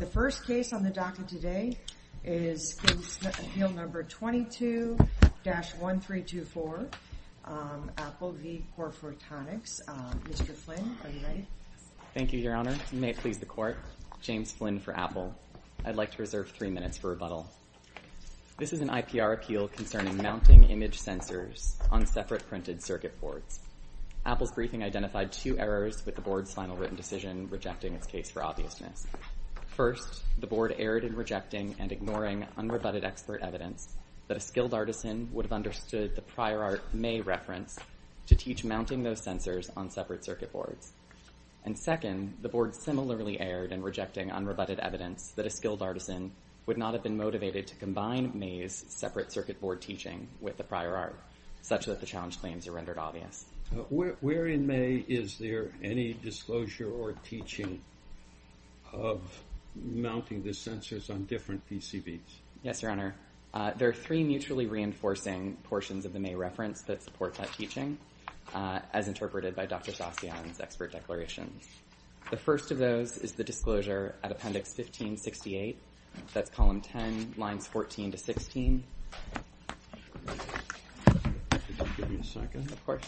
The first case on the docket today is Appeal No. 22-1324, Apple v. Corephotonics. Mr. Flynn, are you ready? Thank you, Your Honor. May it please the Court, James Flynn for Apple. I'd like to reserve three minutes for rebuttal. This is an IPR appeal concerning mounting image sensors on separate printed circuit boards. Apple's briefing identified two errors with the board's final written decision rejecting its case for obviousness. First, the board erred in rejecting and ignoring unrebutted expert evidence that a skilled artisan would have understood the prior art May referenced to teach mounting those sensors on separate circuit boards. And second, the board similarly erred in rejecting unrebutted evidence that a skilled artisan would not have been motivated to combine May's separate circuit board teaching with the prior art, such that the challenge claims are rendered obvious. Where in May is there any disclosure or teaching of mounting the sensors on different PCBs? Yes, Your Honor. There are three mutually reinforcing portions of the May reference that support that teaching, as interpreted by Dr. Sassion's expert declarations. The first of those is the disclosure at Appendix 1568, that's Column 10, Lines 14 to 16. Could you give me a second? Of course.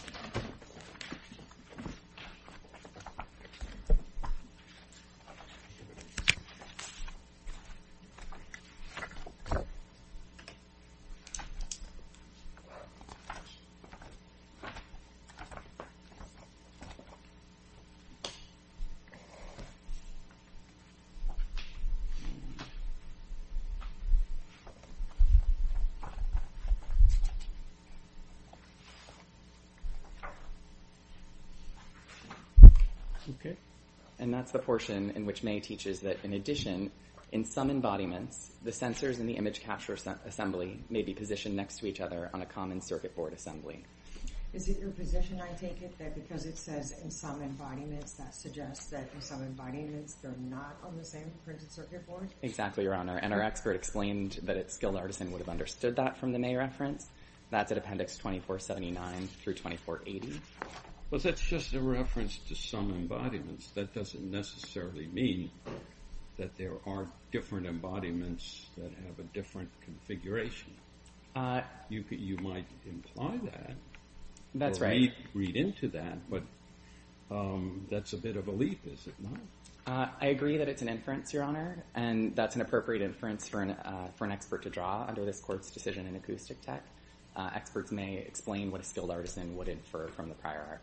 Okay. And that's the portion in which May teaches that, in addition, in some embodiments, the sensors in the image capture assembly may be positioned next to each other on a common circuit board assembly. Is it your position, I take it, that because it says in some embodiments, that suggests that in some embodiments they're not on the same printed circuit board? Exactly, Your Honor. And our expert explained that a skilled artisan would have understood that from the May reference. That's at Appendix 2479 through 2480. But that's just a reference to some embodiments. That doesn't necessarily mean that there are different embodiments that have a different configuration. You might imply that. That's right. Or read into that, but that's a bit of a leap, is it not? I agree that it's an inference, Your Honor, and that's an appropriate inference for an expert to draw under this Court's decision in Acoustic Tech. Experts may explain what a skilled artisan would infer from the prior arc.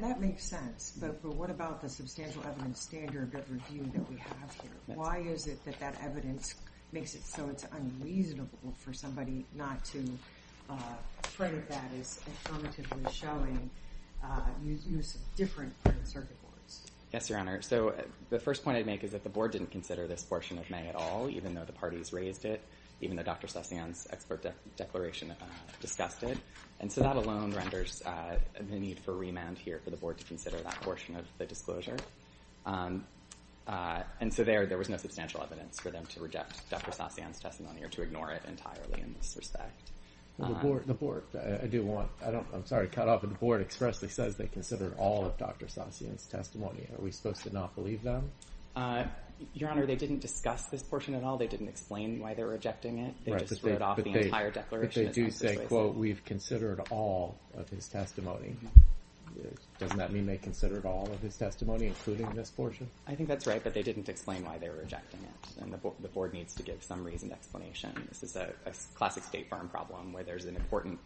That makes sense. But what about the substantial evidence standard review that we have here? Why is it that that evidence makes it so it's unreasonable for somebody not to trade that as affirmatively showing use of different printed circuit boards? Yes, Your Honor. So the first point I'd make is that the Board didn't consider this portion of May at all, even though the parties raised it, even though Dr. Sossian's expert declaration discussed it. And so that alone renders the need for remand here for the Board to consider that portion of the disclosure. And so there was no substantial evidence for them to reject Dr. Sossian's testimony or to ignore it entirely in this respect. The Board, I do want – I'm sorry to cut off, but the Board expressly says they considered all of Dr. Sossian's testimony. Are we supposed to not believe them? Your Honor, they didn't discuss this portion at all. They didn't explain why they were rejecting it. They just wrote off the entire declaration as necessary. But they do say, quote, we've considered all of his testimony. Doesn't that mean they considered all of his testimony, including this portion? I think that's right, but they didn't explain why they were rejecting it, and the Board needs to give some reasoned explanation. This is a classic State Farm problem where there's an important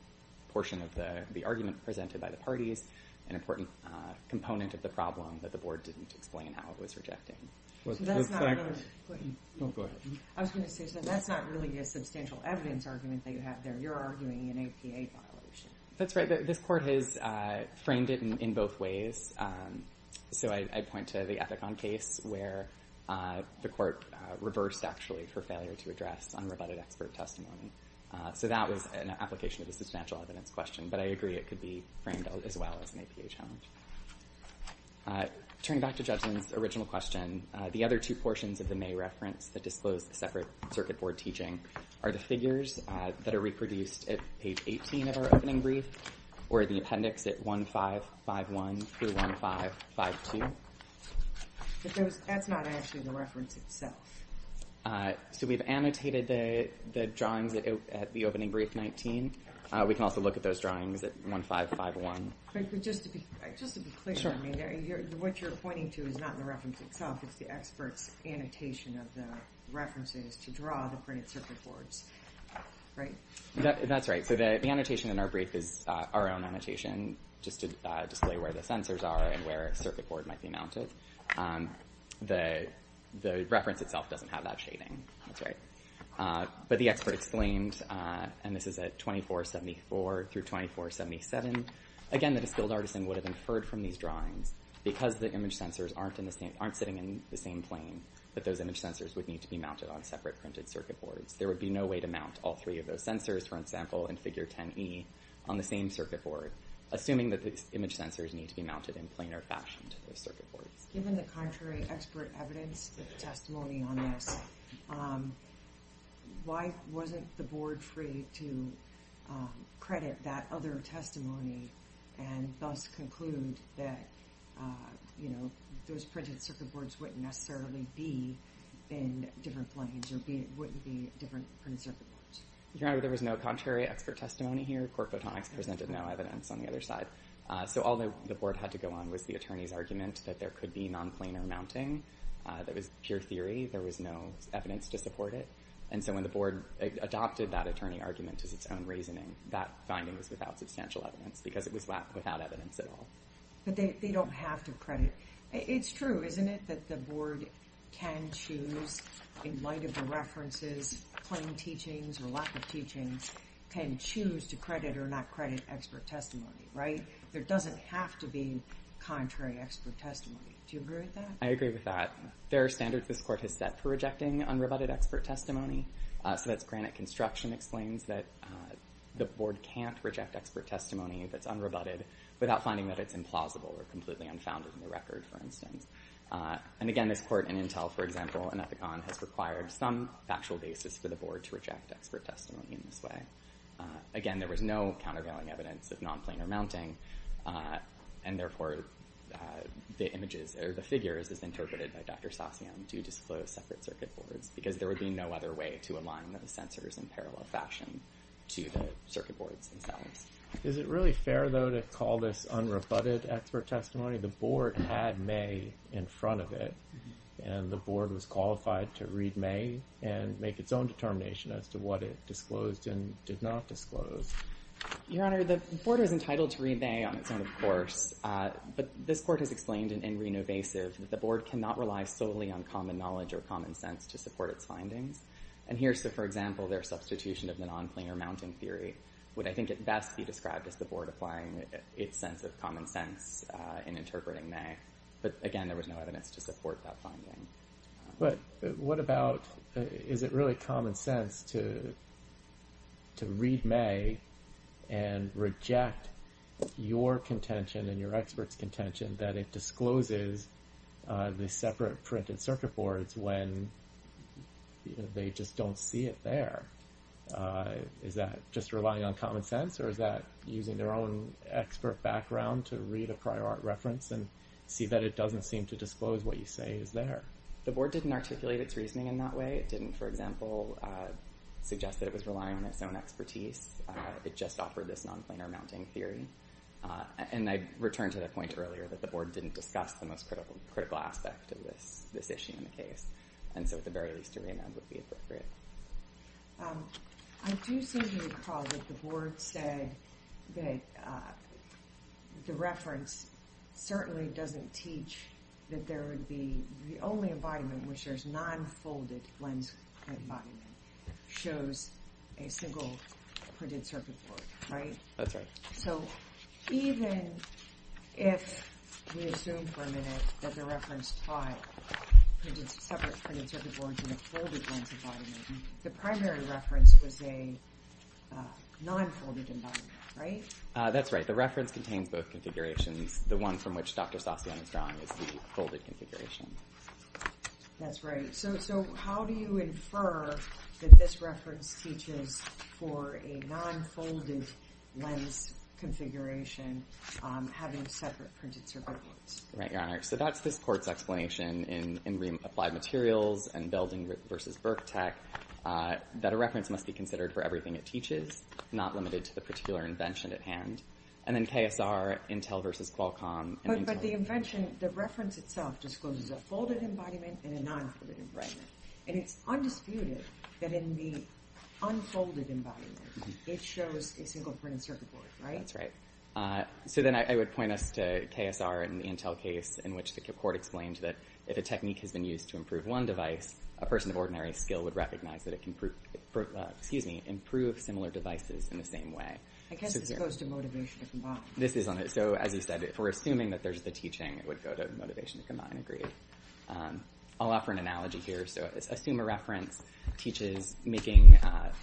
portion of the argument presented by the parties, an important component of the problem that the Board didn't explain how it was rejecting. That's not really a substantial evidence argument that you have there. You're arguing an APA violation. That's right. This Court has framed it in both ways. So I point to the Epicon case where the Court reversed actually for failure to address unrebutted expert testimony. So that was an application of a substantial evidence question, but I agree it could be framed as well as an APA challenge. Turning back to Judgment's original question, the other two portions of the May reference that disclose the separate circuit board teaching are the figures that are reproduced at page 18 of our opening brief or the appendix at 1551 through 1552. But that's not actually the reference itself. So we've annotated the drawings at the opening brief 19. We can also look at those drawings at 1551. But just to be clear, what you're pointing to is not the reference itself. It's the expert's annotation of the references to draw the printed circuit boards, right? That's right. So the annotation in our brief is our own annotation just to display where the sensors are and where a circuit board might be mounted. The reference itself doesn't have that shading. That's right. But the expert exclaimed, and this is at 2474 through 2477, again, that a skilled artisan would have inferred from these drawings because the image sensors aren't sitting in the same plane, that those image sensors would need to be mounted on separate printed circuit boards. There would be no way to mount all three of those sensors, for example, in figure 10E on the same circuit board, assuming that the image sensors need to be mounted in planar fashion to those circuit boards. Given the contrary expert evidence, the testimony on this, why wasn't the board free to credit that other testimony and thus conclude that, you know, those printed circuit boards wouldn't necessarily be in different planes or wouldn't be different printed circuit boards? Your Honor, there was no contrary expert testimony here. Quirk Photonics presented no evidence on the other side. So all the board had to go on was the attorney's argument that there could be non-planar mounting. That was pure theory. There was no evidence to support it. And so when the board adopted that attorney argument as its own reasoning, that finding was without substantial evidence because it was without evidence at all. But they don't have to credit. It's true, isn't it, that the board can choose, in light of the references, plain teachings or lack of teachings, can choose to credit or not credit expert testimony, right? There doesn't have to be contrary expert testimony. Do you agree with that? I agree with that. There are standards this Court has set for rejecting unrebutted expert testimony. So that's Granite Construction explains that the board can't reject expert testimony that's unrebutted without finding that it's implausible or completely unfounded in the record, for instance. And, again, this Court in Intel, for example, in Ethicon, has required some factual basis for the board to reject expert testimony in this way. Again, there was no countervailing evidence of non-planar mounting. And, therefore, the images or the figures as interpreted by Dr. Sosyan do disclose separate circuit boards because there would be no other way to align the sensors in parallel fashion to the circuit boards themselves. Is it really fair, though, to call this unrebutted expert testimony? The board had May in front of it, and the board was qualified to read May and make its own determination as to what it disclosed and did not disclose. Your Honor, the board is entitled to read May on its own, of course. But this Court has explained in Renovasive that the board cannot rely solely on common knowledge or common sense to support its findings. And here, for example, their substitution of the non-planar mounting theory would, I think, at best be described as the board applying its sense of common sense in interpreting May. But, again, there was no evidence to support that finding. But what about, is it really common sense to read May and reject your contention and your expert's contention that it discloses the separate printed circuit boards when they just don't see it there? Is that just relying on common sense? Or is that using their own expert background to read a prior art reference and see that it doesn't seem to disclose what you say is there? The board didn't articulate its reasoning in that way. It didn't, for example, suggest that it was relying on its own expertise. It just offered this non-planar mounting theory. And I returned to the point earlier that the board didn't discuss the most critical aspect of this issue in the case. And so, at the very least, a re-amend would be appropriate. I do seem to recall that the board said that the reference certainly doesn't teach that the only embodiment in which there's non-folded lens embodiment shows a single printed circuit board, right? That's right. So, even if we assume for a minute that the reference taught printed circuit boards in a folded lens embodiment, the primary reference was a non-folded embodiment, right? That's right. The reference contains both configurations. The one from which Dr. Sasiano is drawing is the folded configuration. That's right. So, how do you infer that this reference teaches for a non-folded lens configuration having separate printed circuit boards? Right, Your Honor. So, that's this court's explanation in re-applied materials and Belding v. Burke Tech that a reference must be considered for everything it teaches, not limited to the particular invention at hand. And then KSR, Intel v. Qualcomm, and Intel. But the invention, the reference itself discloses a folded embodiment and a non-folded embodiment. And it's undisputed that in the unfolded embodiment, it shows a single printed circuit board, right? That's right. So, then I would point us to KSR and the Intel case in which the court explained that if a technique has been used to improve one device, a person of ordinary skill would recognize that it can improve similar devices in the same way. I guess this goes to motivation. This is on it. So, as you said, if we're assuming that there's the teaching, it would go to motivation to combine. Agreed. I'll offer an analogy here. So, assume a reference teaches making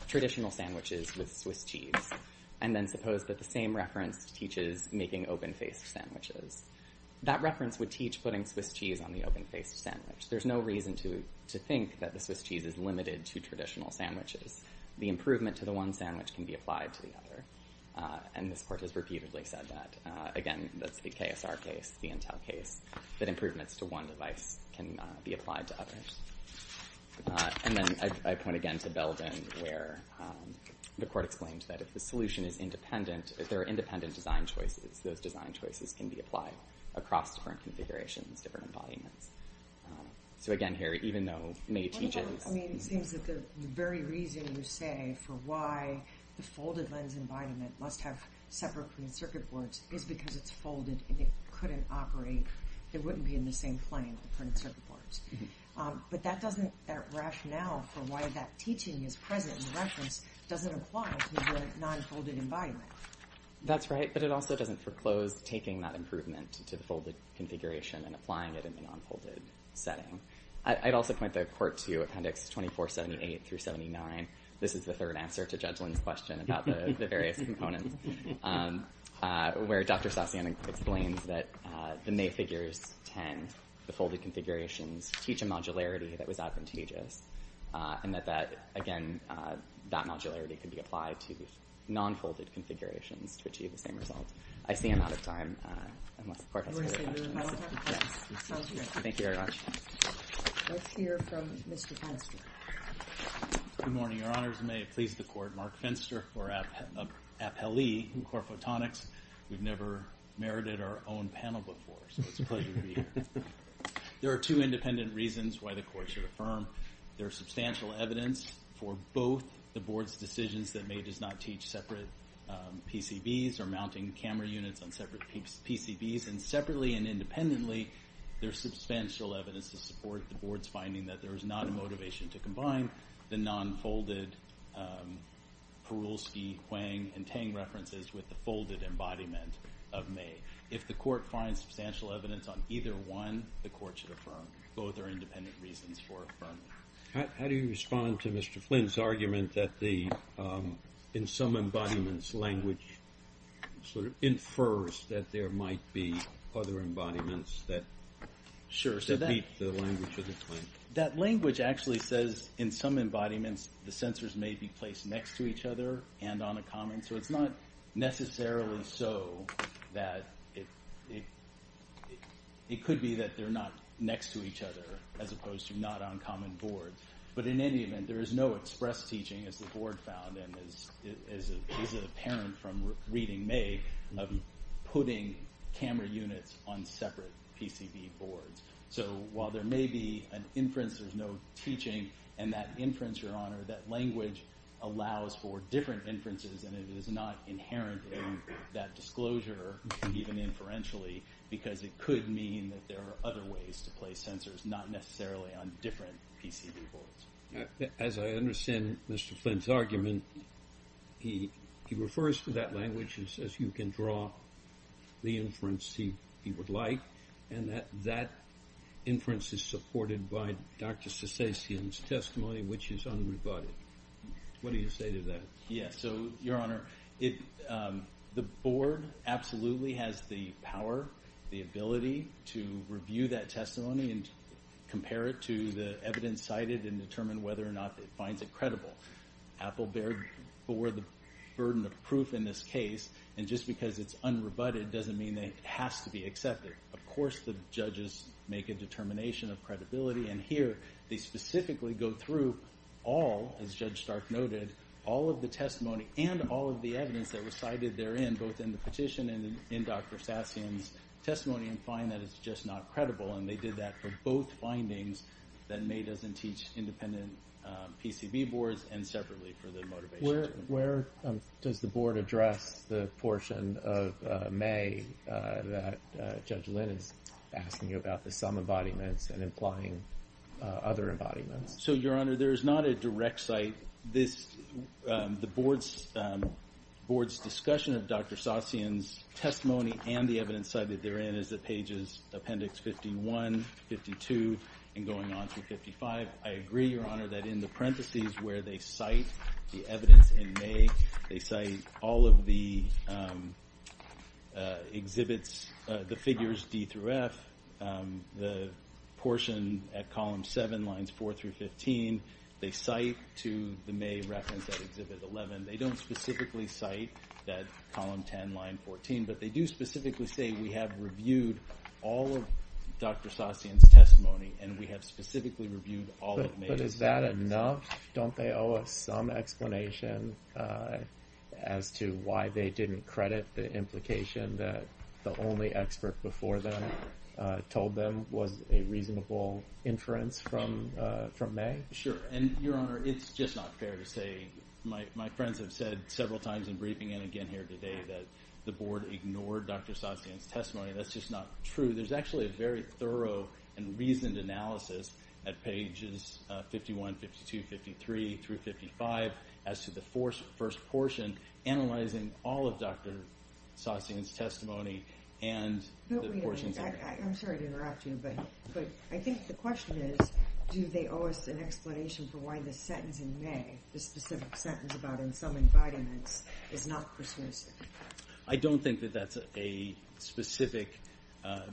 traditional sandwiches with Swiss cheese. And then suppose that the same reference teaches making open-faced sandwiches. That reference would teach putting Swiss cheese on the open-faced sandwich. There's no reason to think that the Swiss cheese is limited to traditional sandwiches. The improvement to the one sandwich can be applied to the other. And this court has repeatedly said that. Again, that's the KSR case, the Intel case, that improvements to one device can be applied to others. And then I point again to Belden where the court explained that if the solution is independent, if there are independent design choices, those design choices can be applied across different configurations, different embodiments. So, again, here, even though May teaches. I mean, it seems that the very reason you say for why the folded lens embodiment must have separate printed circuit boards is because it's folded and it couldn't operate. It wouldn't be in the same plane with printed circuit boards. But that doesn't, that rationale for why that teaching is present in the reference doesn't apply to the non-folded embodiment. That's right. But it also doesn't foreclose taking that improvement to the folded configuration and applying it in the non-folded setting. I'd also point the court to Appendix 2478 through 79. This is the third answer to Judgelin's question about the various components, where Dr. Sasian explains that the May figures 10, the folded configurations, teach a modularity that was advantageous and that, again, that modularity can be applied to non-folded configurations to achieve the same result. I see I'm out of time. You want to say more? Yes. Thank you very much. Let's hear from Mr. Fenster. Good morning, Your Honors. May it please the court, Mark Fenster for Appellee in Core Photonics. We've never merited our own panel before, so it's a pleasure to be here. There are two independent reasons why the court should affirm. There is substantial evidence for both the board's decisions that May does not teach separate PCBs or mounting camera units on separate PCBs, and separately and independently, there's substantial evidence to support the board's finding that there is not a motivation to combine the non-folded Perulski, Huang, and Tang references with the folded embodiment of May. If the court finds substantial evidence on either one, the court should affirm. Both are independent reasons for affirming. How do you respond to Mr. Flynn's argument that in some embodiments language sort of infers that there might be other embodiments that meet the language of the claim? That language actually says in some embodiments the sensors may be placed next to each other and on a common, so it's not necessarily so that it could be that they're not next to each other as opposed to not on common boards. But in any event, there is no express teaching, as the board found, and as a parent from reading May, of putting camera units on separate PCB boards. So while there may be an inference, there's no teaching, and that inference, Your Honor, that language allows for different inferences, and it is not inherent in that disclosure, even inferentially, because it could mean that there are other ways to place sensors, not necessarily on different PCB boards. As I understand Mr. Flynn's argument, he refers to that language as you can draw the inference he would like, and that that inference is supported by Dr. Sasaitian's testimony, which is unrebutted. What do you say to that? Yes, so, Your Honor, the board absolutely has the power, the ability to review that testimony and compare it to the evidence cited and determine whether or not it finds it credible. Apple bared for the burden of proof in this case, and just because it's unrebutted doesn't mean that it has to be accepted. Of course the judges make a determination of credibility, and here they specifically go through all, as Judge Stark noted, all of the testimony and all of the evidence that was cited therein, both in the petition and in Dr. Sasaitian's testimony, and find that it's just not credible, and they did that for both findings, that May doesn't teach independent PCB boards, and separately for the motivation. Where does the board address the portion of May that Judge Lynn is asking about, the some embodiments and implying other embodiments? So, Your Honor, there is not a direct site. The board's discussion of Dr. Sasaitian's testimony and the evidence cited therein is at pages appendix 51, 52, and going on through 55. I agree, Your Honor, that in the parentheses where they cite the evidence in May, they cite all of the exhibits, the figures D through F, the portion at column 7, lines 4 through 15, they cite to the May reference at exhibit 11. They don't specifically cite that column 10, line 14, but they do specifically say we have reviewed all of Dr. Sasaitian's testimony, But is that enough? Don't they owe us some explanation as to why they didn't credit the implication that the only expert before them told them was a reasonable inference from May? Sure, and Your Honor, it's just not fair to say. My friends have said several times in briefing and again here today that the board ignored Dr. Sasaitian's testimony. That's just not true. There's actually a very thorough and reasoned analysis at pages 51, 52, 53 through 55 as to the first portion analyzing all of Dr. Sasaitian's testimony and the portions of it. I'm sorry to interrupt you, but I think the question is, do they owe us an explanation for why the sentence in May, the specific sentence about in some environments, is not persuasive? I don't think that that's a specific,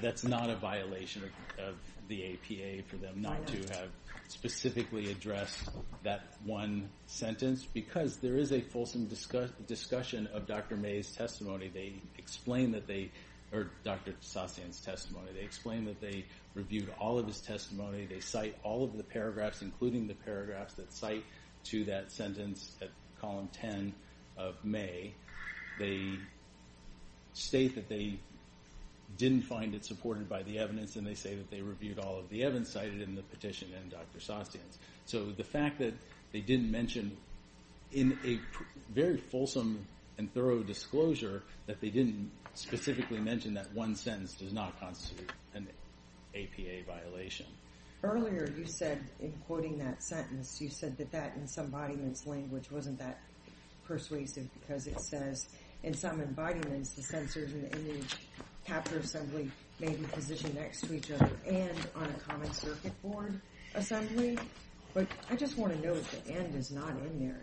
that's not a violation of the APA for them not to have specifically addressed that one sentence because there is a fulsome discussion of Dr. Sasaitian's testimony. They explain that they reviewed all of his testimony. They cite all of the paragraphs, including the paragraphs that cite to that sentence at column 10 of May. They state that they didn't find it supported by the evidence and they say that they reviewed all of the evidence cited in the petition and Dr. Sasaitian's. So the fact that they didn't mention in a very fulsome and thorough disclosure that they didn't specifically mention that one sentence does not constitute an APA violation. Earlier you said, in quoting that sentence, you said that that in some embodiments language wasn't that persuasive because it says in some embodiments the sensors in the image capture assembly may be positioned next to each other and on a common circuit board assembly. But I just want to note the end is not in there.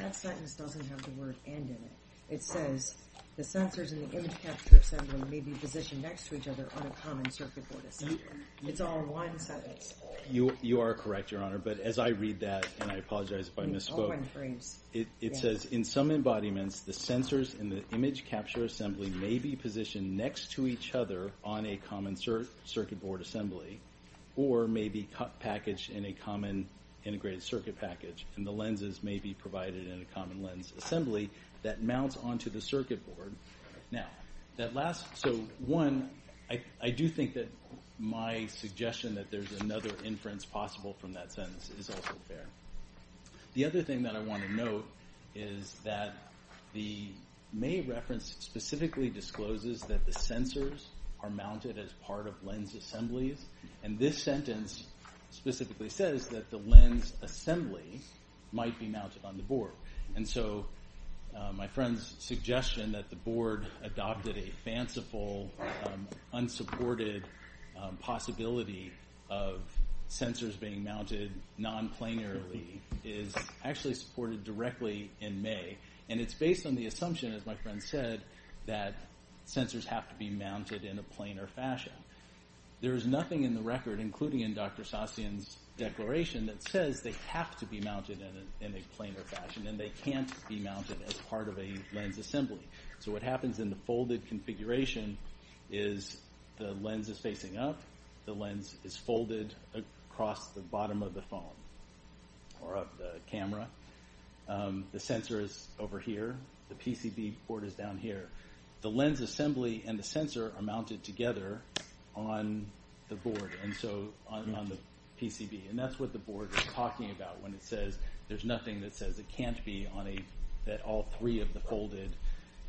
That sentence doesn't have the word end in it. It says the sensors in the image capture assembly may be positioned next to each other on a common circuit board assembly. It's all one sentence. You are correct, Your Honor. But as I read that, and I apologize if I misspoke, it says in some embodiments the sensors in the image capture assembly may be positioned next to each other on a common circuit board assembly or may be packaged in a common integrated circuit package and the lenses may be provided in a common lens assembly that mounts onto the circuit board. So one, I do think that my suggestion that there's another inference possible from that sentence is also fair. The other thing that I want to note is that the May reference specifically discloses that the sensors are mounted as part of lens assemblies, and this sentence specifically says that the lens assembly might be mounted on the board. And so my friend's suggestion that the board adopted a fanciful, unsupported possibility of sensors being mounted nonplanarly is actually supported directly in May, and it's based on the assumption, as my friend said, that sensors have to be mounted in a planar fashion. There is nothing in the record, including in Dr. Sasian's declaration, that says they have to be mounted in a planar fashion and they can't be mounted as part of a lens assembly. So what happens in the folded configuration is the lens is facing up, the lens is folded across the bottom of the phone or of the camera, the sensor is over here, the PCB board is down here. The lens assembly and the sensor are mounted together on the board, and so on the PCB. And that's what the board is talking about when it says there's nothing that says it can't be on a that all three of the folded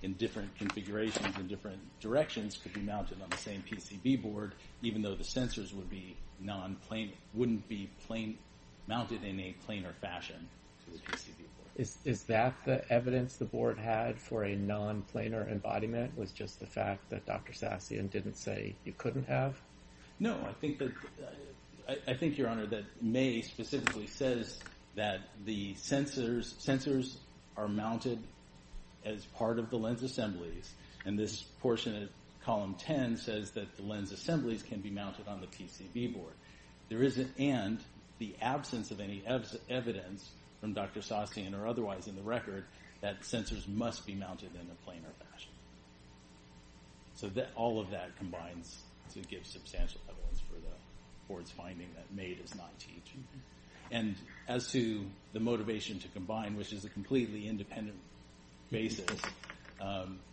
in different configurations in different directions could be mounted on the same PCB board, even though the sensors wouldn't be mounted in a planar fashion to the PCB board. Is that the evidence the board had for a nonplanar embodiment was just the fact that Dr. Sasian didn't say you couldn't have? No. I think, Your Honor, that May specifically says that the sensors are mounted as part of the lens assemblies, and this portion of column 10 says that the lens assemblies can be mounted on the PCB board. And the absence of any evidence from Dr. Sasian or otherwise in the record that sensors must be mounted in a planar fashion. So all of that combines to give substantial evidence for the board's finding that May does not teach. And as to the motivation to combine, which is a completely independent basis,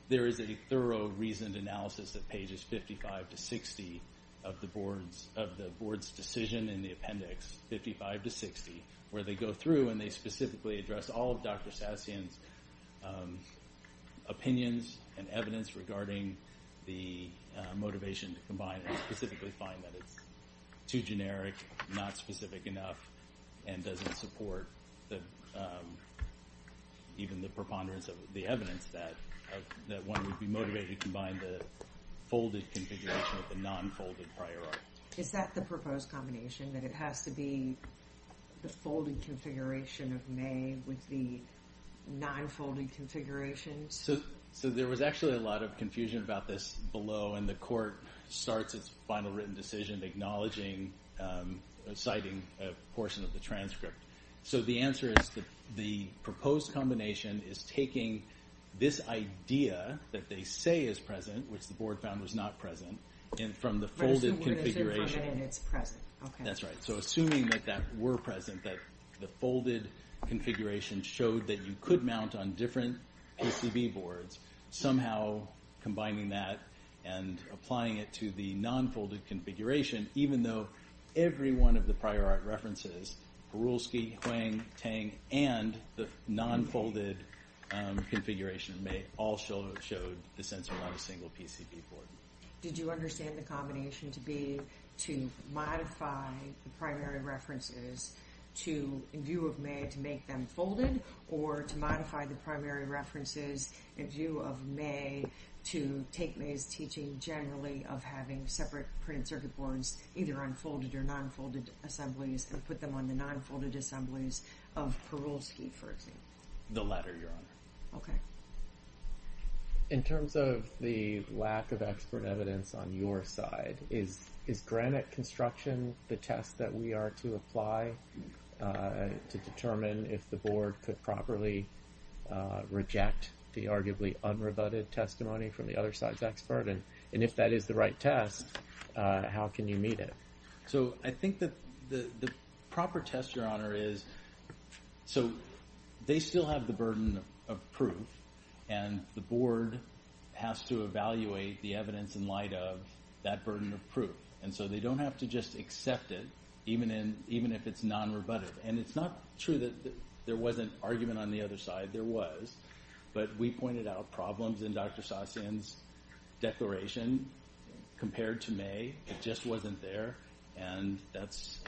there is a thorough, reasoned analysis at pages 55 to 60 of the board's decision in the appendix, 55 to 60, where they go through and they specifically address all of Dr. Sasian's opinions, and evidence regarding the motivation to combine, and specifically find that it's too generic, not specific enough, and doesn't support even the preponderance of the evidence that one would be motivated to combine the folded configuration with the nonfolded prior art. Is that the proposed combination, that it has to be the folded configuration of May with the nonfolded configurations? So there was actually a lot of confusion about this below, and the court starts its final written decision acknowledging, citing a portion of the transcript. So the answer is that the proposed combination is taking this idea that they say is present, which the board found was not present, and from the folded configuration. First of all, it is a combination, and it's present. Okay. That's right. So assuming that that were present, that the folded configuration showed that you could mount on different PCB boards, somehow combining that and applying it to the nonfolded configuration, even though every one of the prior art references, Borulski, Hwang, Tang, and the nonfolded configuration, may all show the sensor on a single PCB board. Did you understand the combination to be to modify the primary references in view of May to make them folded, or to modify the primary references in view of May to take May's teaching generally of having separate printed circuit boards, either on folded or nonfolded assemblies, and put them on the nonfolded assemblies of Borulski, for example? The latter, Your Honor. Okay. In terms of the lack of expert evidence on your side, is granite construction the test that we are to apply to determine if the board could properly reject the arguably unrebutted testimony from the other side's expert? And if that is the right test, how can you meet it? So I think the proper test, Your Honor, is so they still have the burden of proof, and the board has to evaluate the evidence in light of that burden of proof. And so they don't have to just accept it, even if it's non-rebuttive. And it's not true that there wasn't argument on the other side. There was, but we pointed out problems in Dr. Sasin's declaration compared to May. It just wasn't there, and that's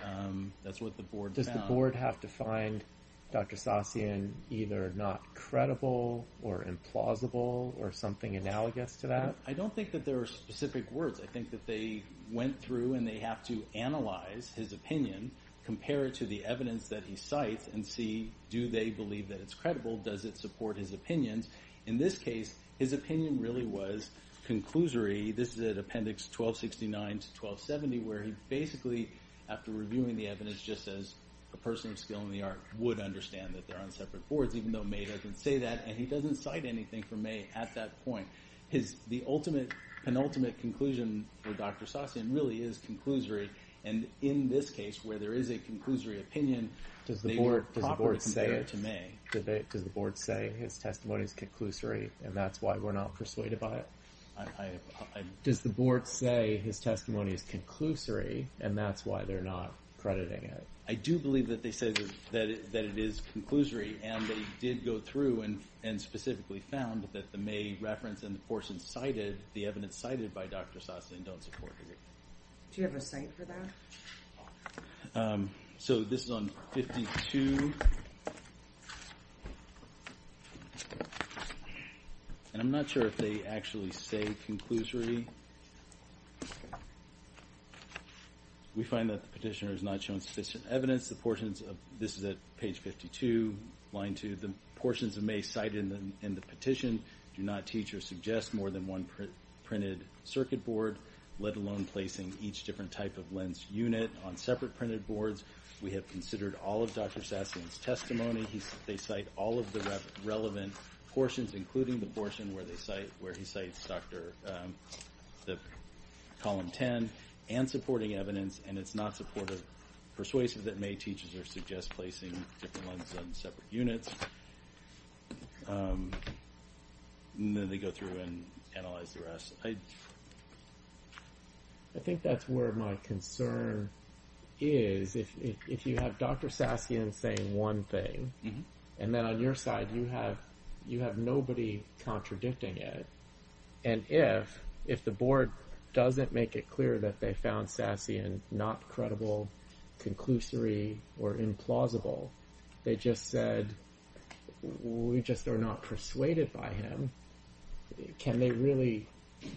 what the board found. Does the board have to find Dr. Sasin either not credible or implausible or something analogous to that? I don't think that there are specific words. I think that they went through and they have to analyze his opinion, compare it to the evidence that he cites, and see do they believe that it's credible, does it support his opinions. In this case, his opinion really was conclusory. This is at Appendix 1269 to 1270, where he basically, after reviewing the evidence just as a person of skill in the art, would understand that they're on separate boards, even though May doesn't say that, and he doesn't cite anything from May at that point. The ultimate, penultimate conclusion for Dr. Sasin really is conclusory. And in this case, where there is a conclusory opinion, does the board say his testimony is conclusory and that's why we're not persuaded by it? Does the board say his testimony is conclusory and that's why they're not crediting it? I do believe that they said that it is conclusory and they did go through and specifically found that the May reference and the portion cited, the evidence cited by Dr. Sasin, don't support it. Do you have a cite for that? So this is on 52. And I'm not sure if they actually say conclusory. We find that the petitioner has not shown sufficient evidence. This is at page 52, line 2. The portions of May cited in the petition do not teach or suggest more than one printed circuit board, let alone placing each different type of lens unit on separate printed boards. We have considered all of Dr. Sasin's testimony. They cite all of the relevant portions, including the portion where he cites column 10, and supporting evidence, and it's not supportive, persuasive that May teaches or suggests placing different lenses on separate units. And then they go through and analyze the rest. I think that's where my concern is. If you have Dr. Sasin saying one thing, and then on your side you have nobody contradicting it, and if the board doesn't make it clear that they found Sasin not credible, conclusory, or implausible, they just said, we just are not persuaded by him. Can they really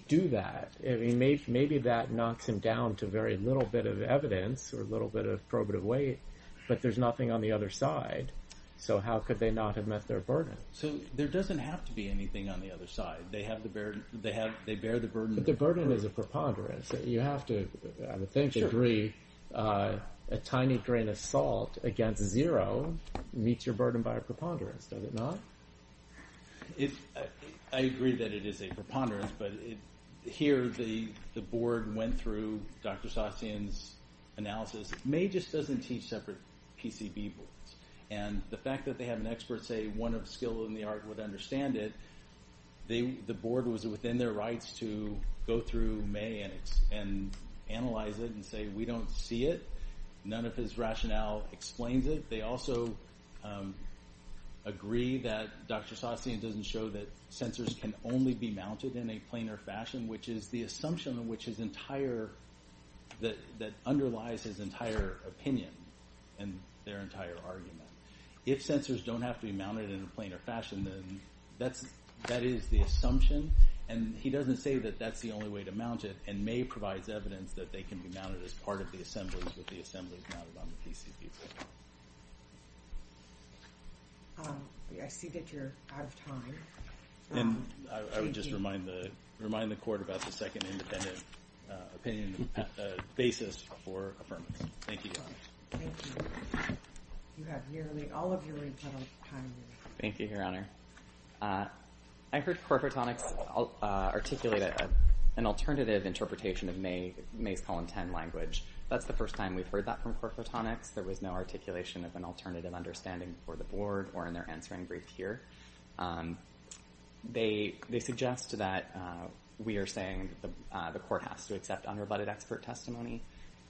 do that? Maybe that knocks him down to very little bit of evidence, or a little bit of probative weight, but there's nothing on the other side, so how could they not have met their burden? So there doesn't have to be anything on the other side. They bear the burden. But the burden is a preponderance. You have to, I think, agree, a tiny grain of salt against zero meets your burden by a preponderance, does it not? I agree that it is a preponderance, but here the board went through Dr. Sasin's analysis. May just doesn't teach separate PCB boards, and the fact that they have an expert say one of skill in the art would understand it, the board was within their rights to go through May and analyze it and say, we don't see it. None of his rationale explains it. They also agree that Dr. Sasin doesn't show that sensors can only be mounted in a planar fashion, which is the assumption that underlies his entire opinion and their entire argument. If sensors don't have to be mounted in a planar fashion, then that is the assumption, and he doesn't say that that's the only way to mount it, and May provides evidence that they can be mounted as part of the assemblies with the assemblies mounted on the PCBs. I see that you're out of time. And I would just remind the court about the second independent opinion basis for affirmation. Thank you, Your Honor. Thank you. You have nearly all of your rebuttal time. Thank you, Your Honor. I heard core photonics articulate an alternative interpretation of May's column 10 language. That's the first time we've heard that from core photonics. There was no articulation of an alternative understanding for the board or in their answering brief here. They suggest that we are saying the court has to accept unrebutted expert testimony.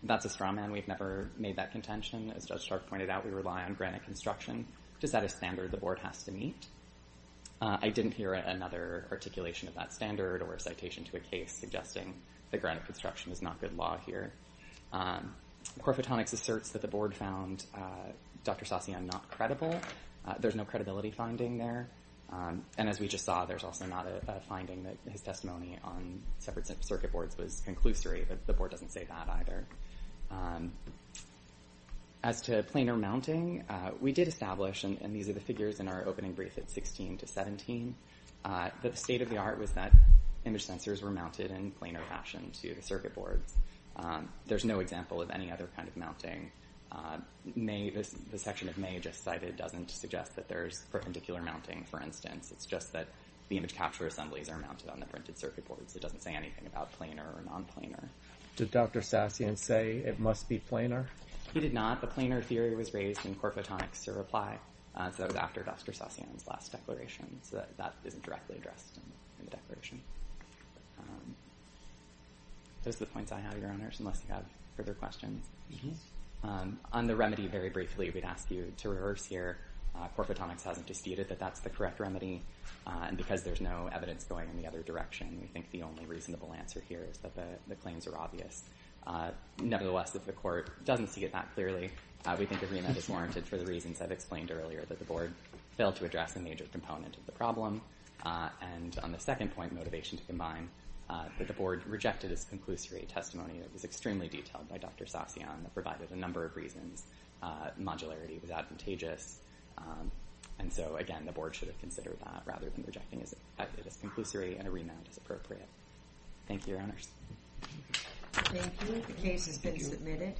That's a straw man. We've never made that contention. As Judge Stark pointed out, we rely on granite construction to set a standard the board has to meet. I didn't hear another articulation of that standard or a citation to a case suggesting that granite construction is not good law here. Core photonics asserts that the board found Dr. Saucyon not credible. There's no credibility finding there. And as we just saw, there's also not a finding that his testimony on separate circuit boards was conclusory. The board doesn't say that either. As to planar mounting, we did establish, and these are the figures in our opening brief at 16 to 17, that the state of the art was that image sensors were mounted in planar fashion to the circuit boards. There's no example of any other kind of mounting. The section that Mae just cited doesn't suggest that there's perpendicular mounting, for instance. It's just that the image capture assemblies are mounted on the printed circuit boards. It doesn't say anything about planar or non-planar. Did Dr. Saucyon say it must be planar? He did not. The planar theory was raised in core photonics to reply. So that was after Dr. Saucyon's last declaration. So that isn't directly addressed in the declaration. Those are the points I have, Your Honors, unless you have further questions. On the remedy, very briefly, we'd ask you to reverse here. Core photonics hasn't disputed that that's the correct remedy. And because there's no evidence going in the other direction, we think the only reasonable answer here is that the claims are obvious. Nevertheless, if the court doesn't see it that clearly, we think a remand is warranted for the reasons I've explained earlier, that the board failed to address a major component of the problem. And on the second point, motivation to combine, that the board rejected its conclusory testimony that was extremely detailed by Dr. Saucyon that provided a number of reasons. Modularity was advantageous. And so, again, the board should have considered that rather than rejecting it as conclusory and a remand as appropriate. Thank you, Your Honors. Thank you. The case has been submitted.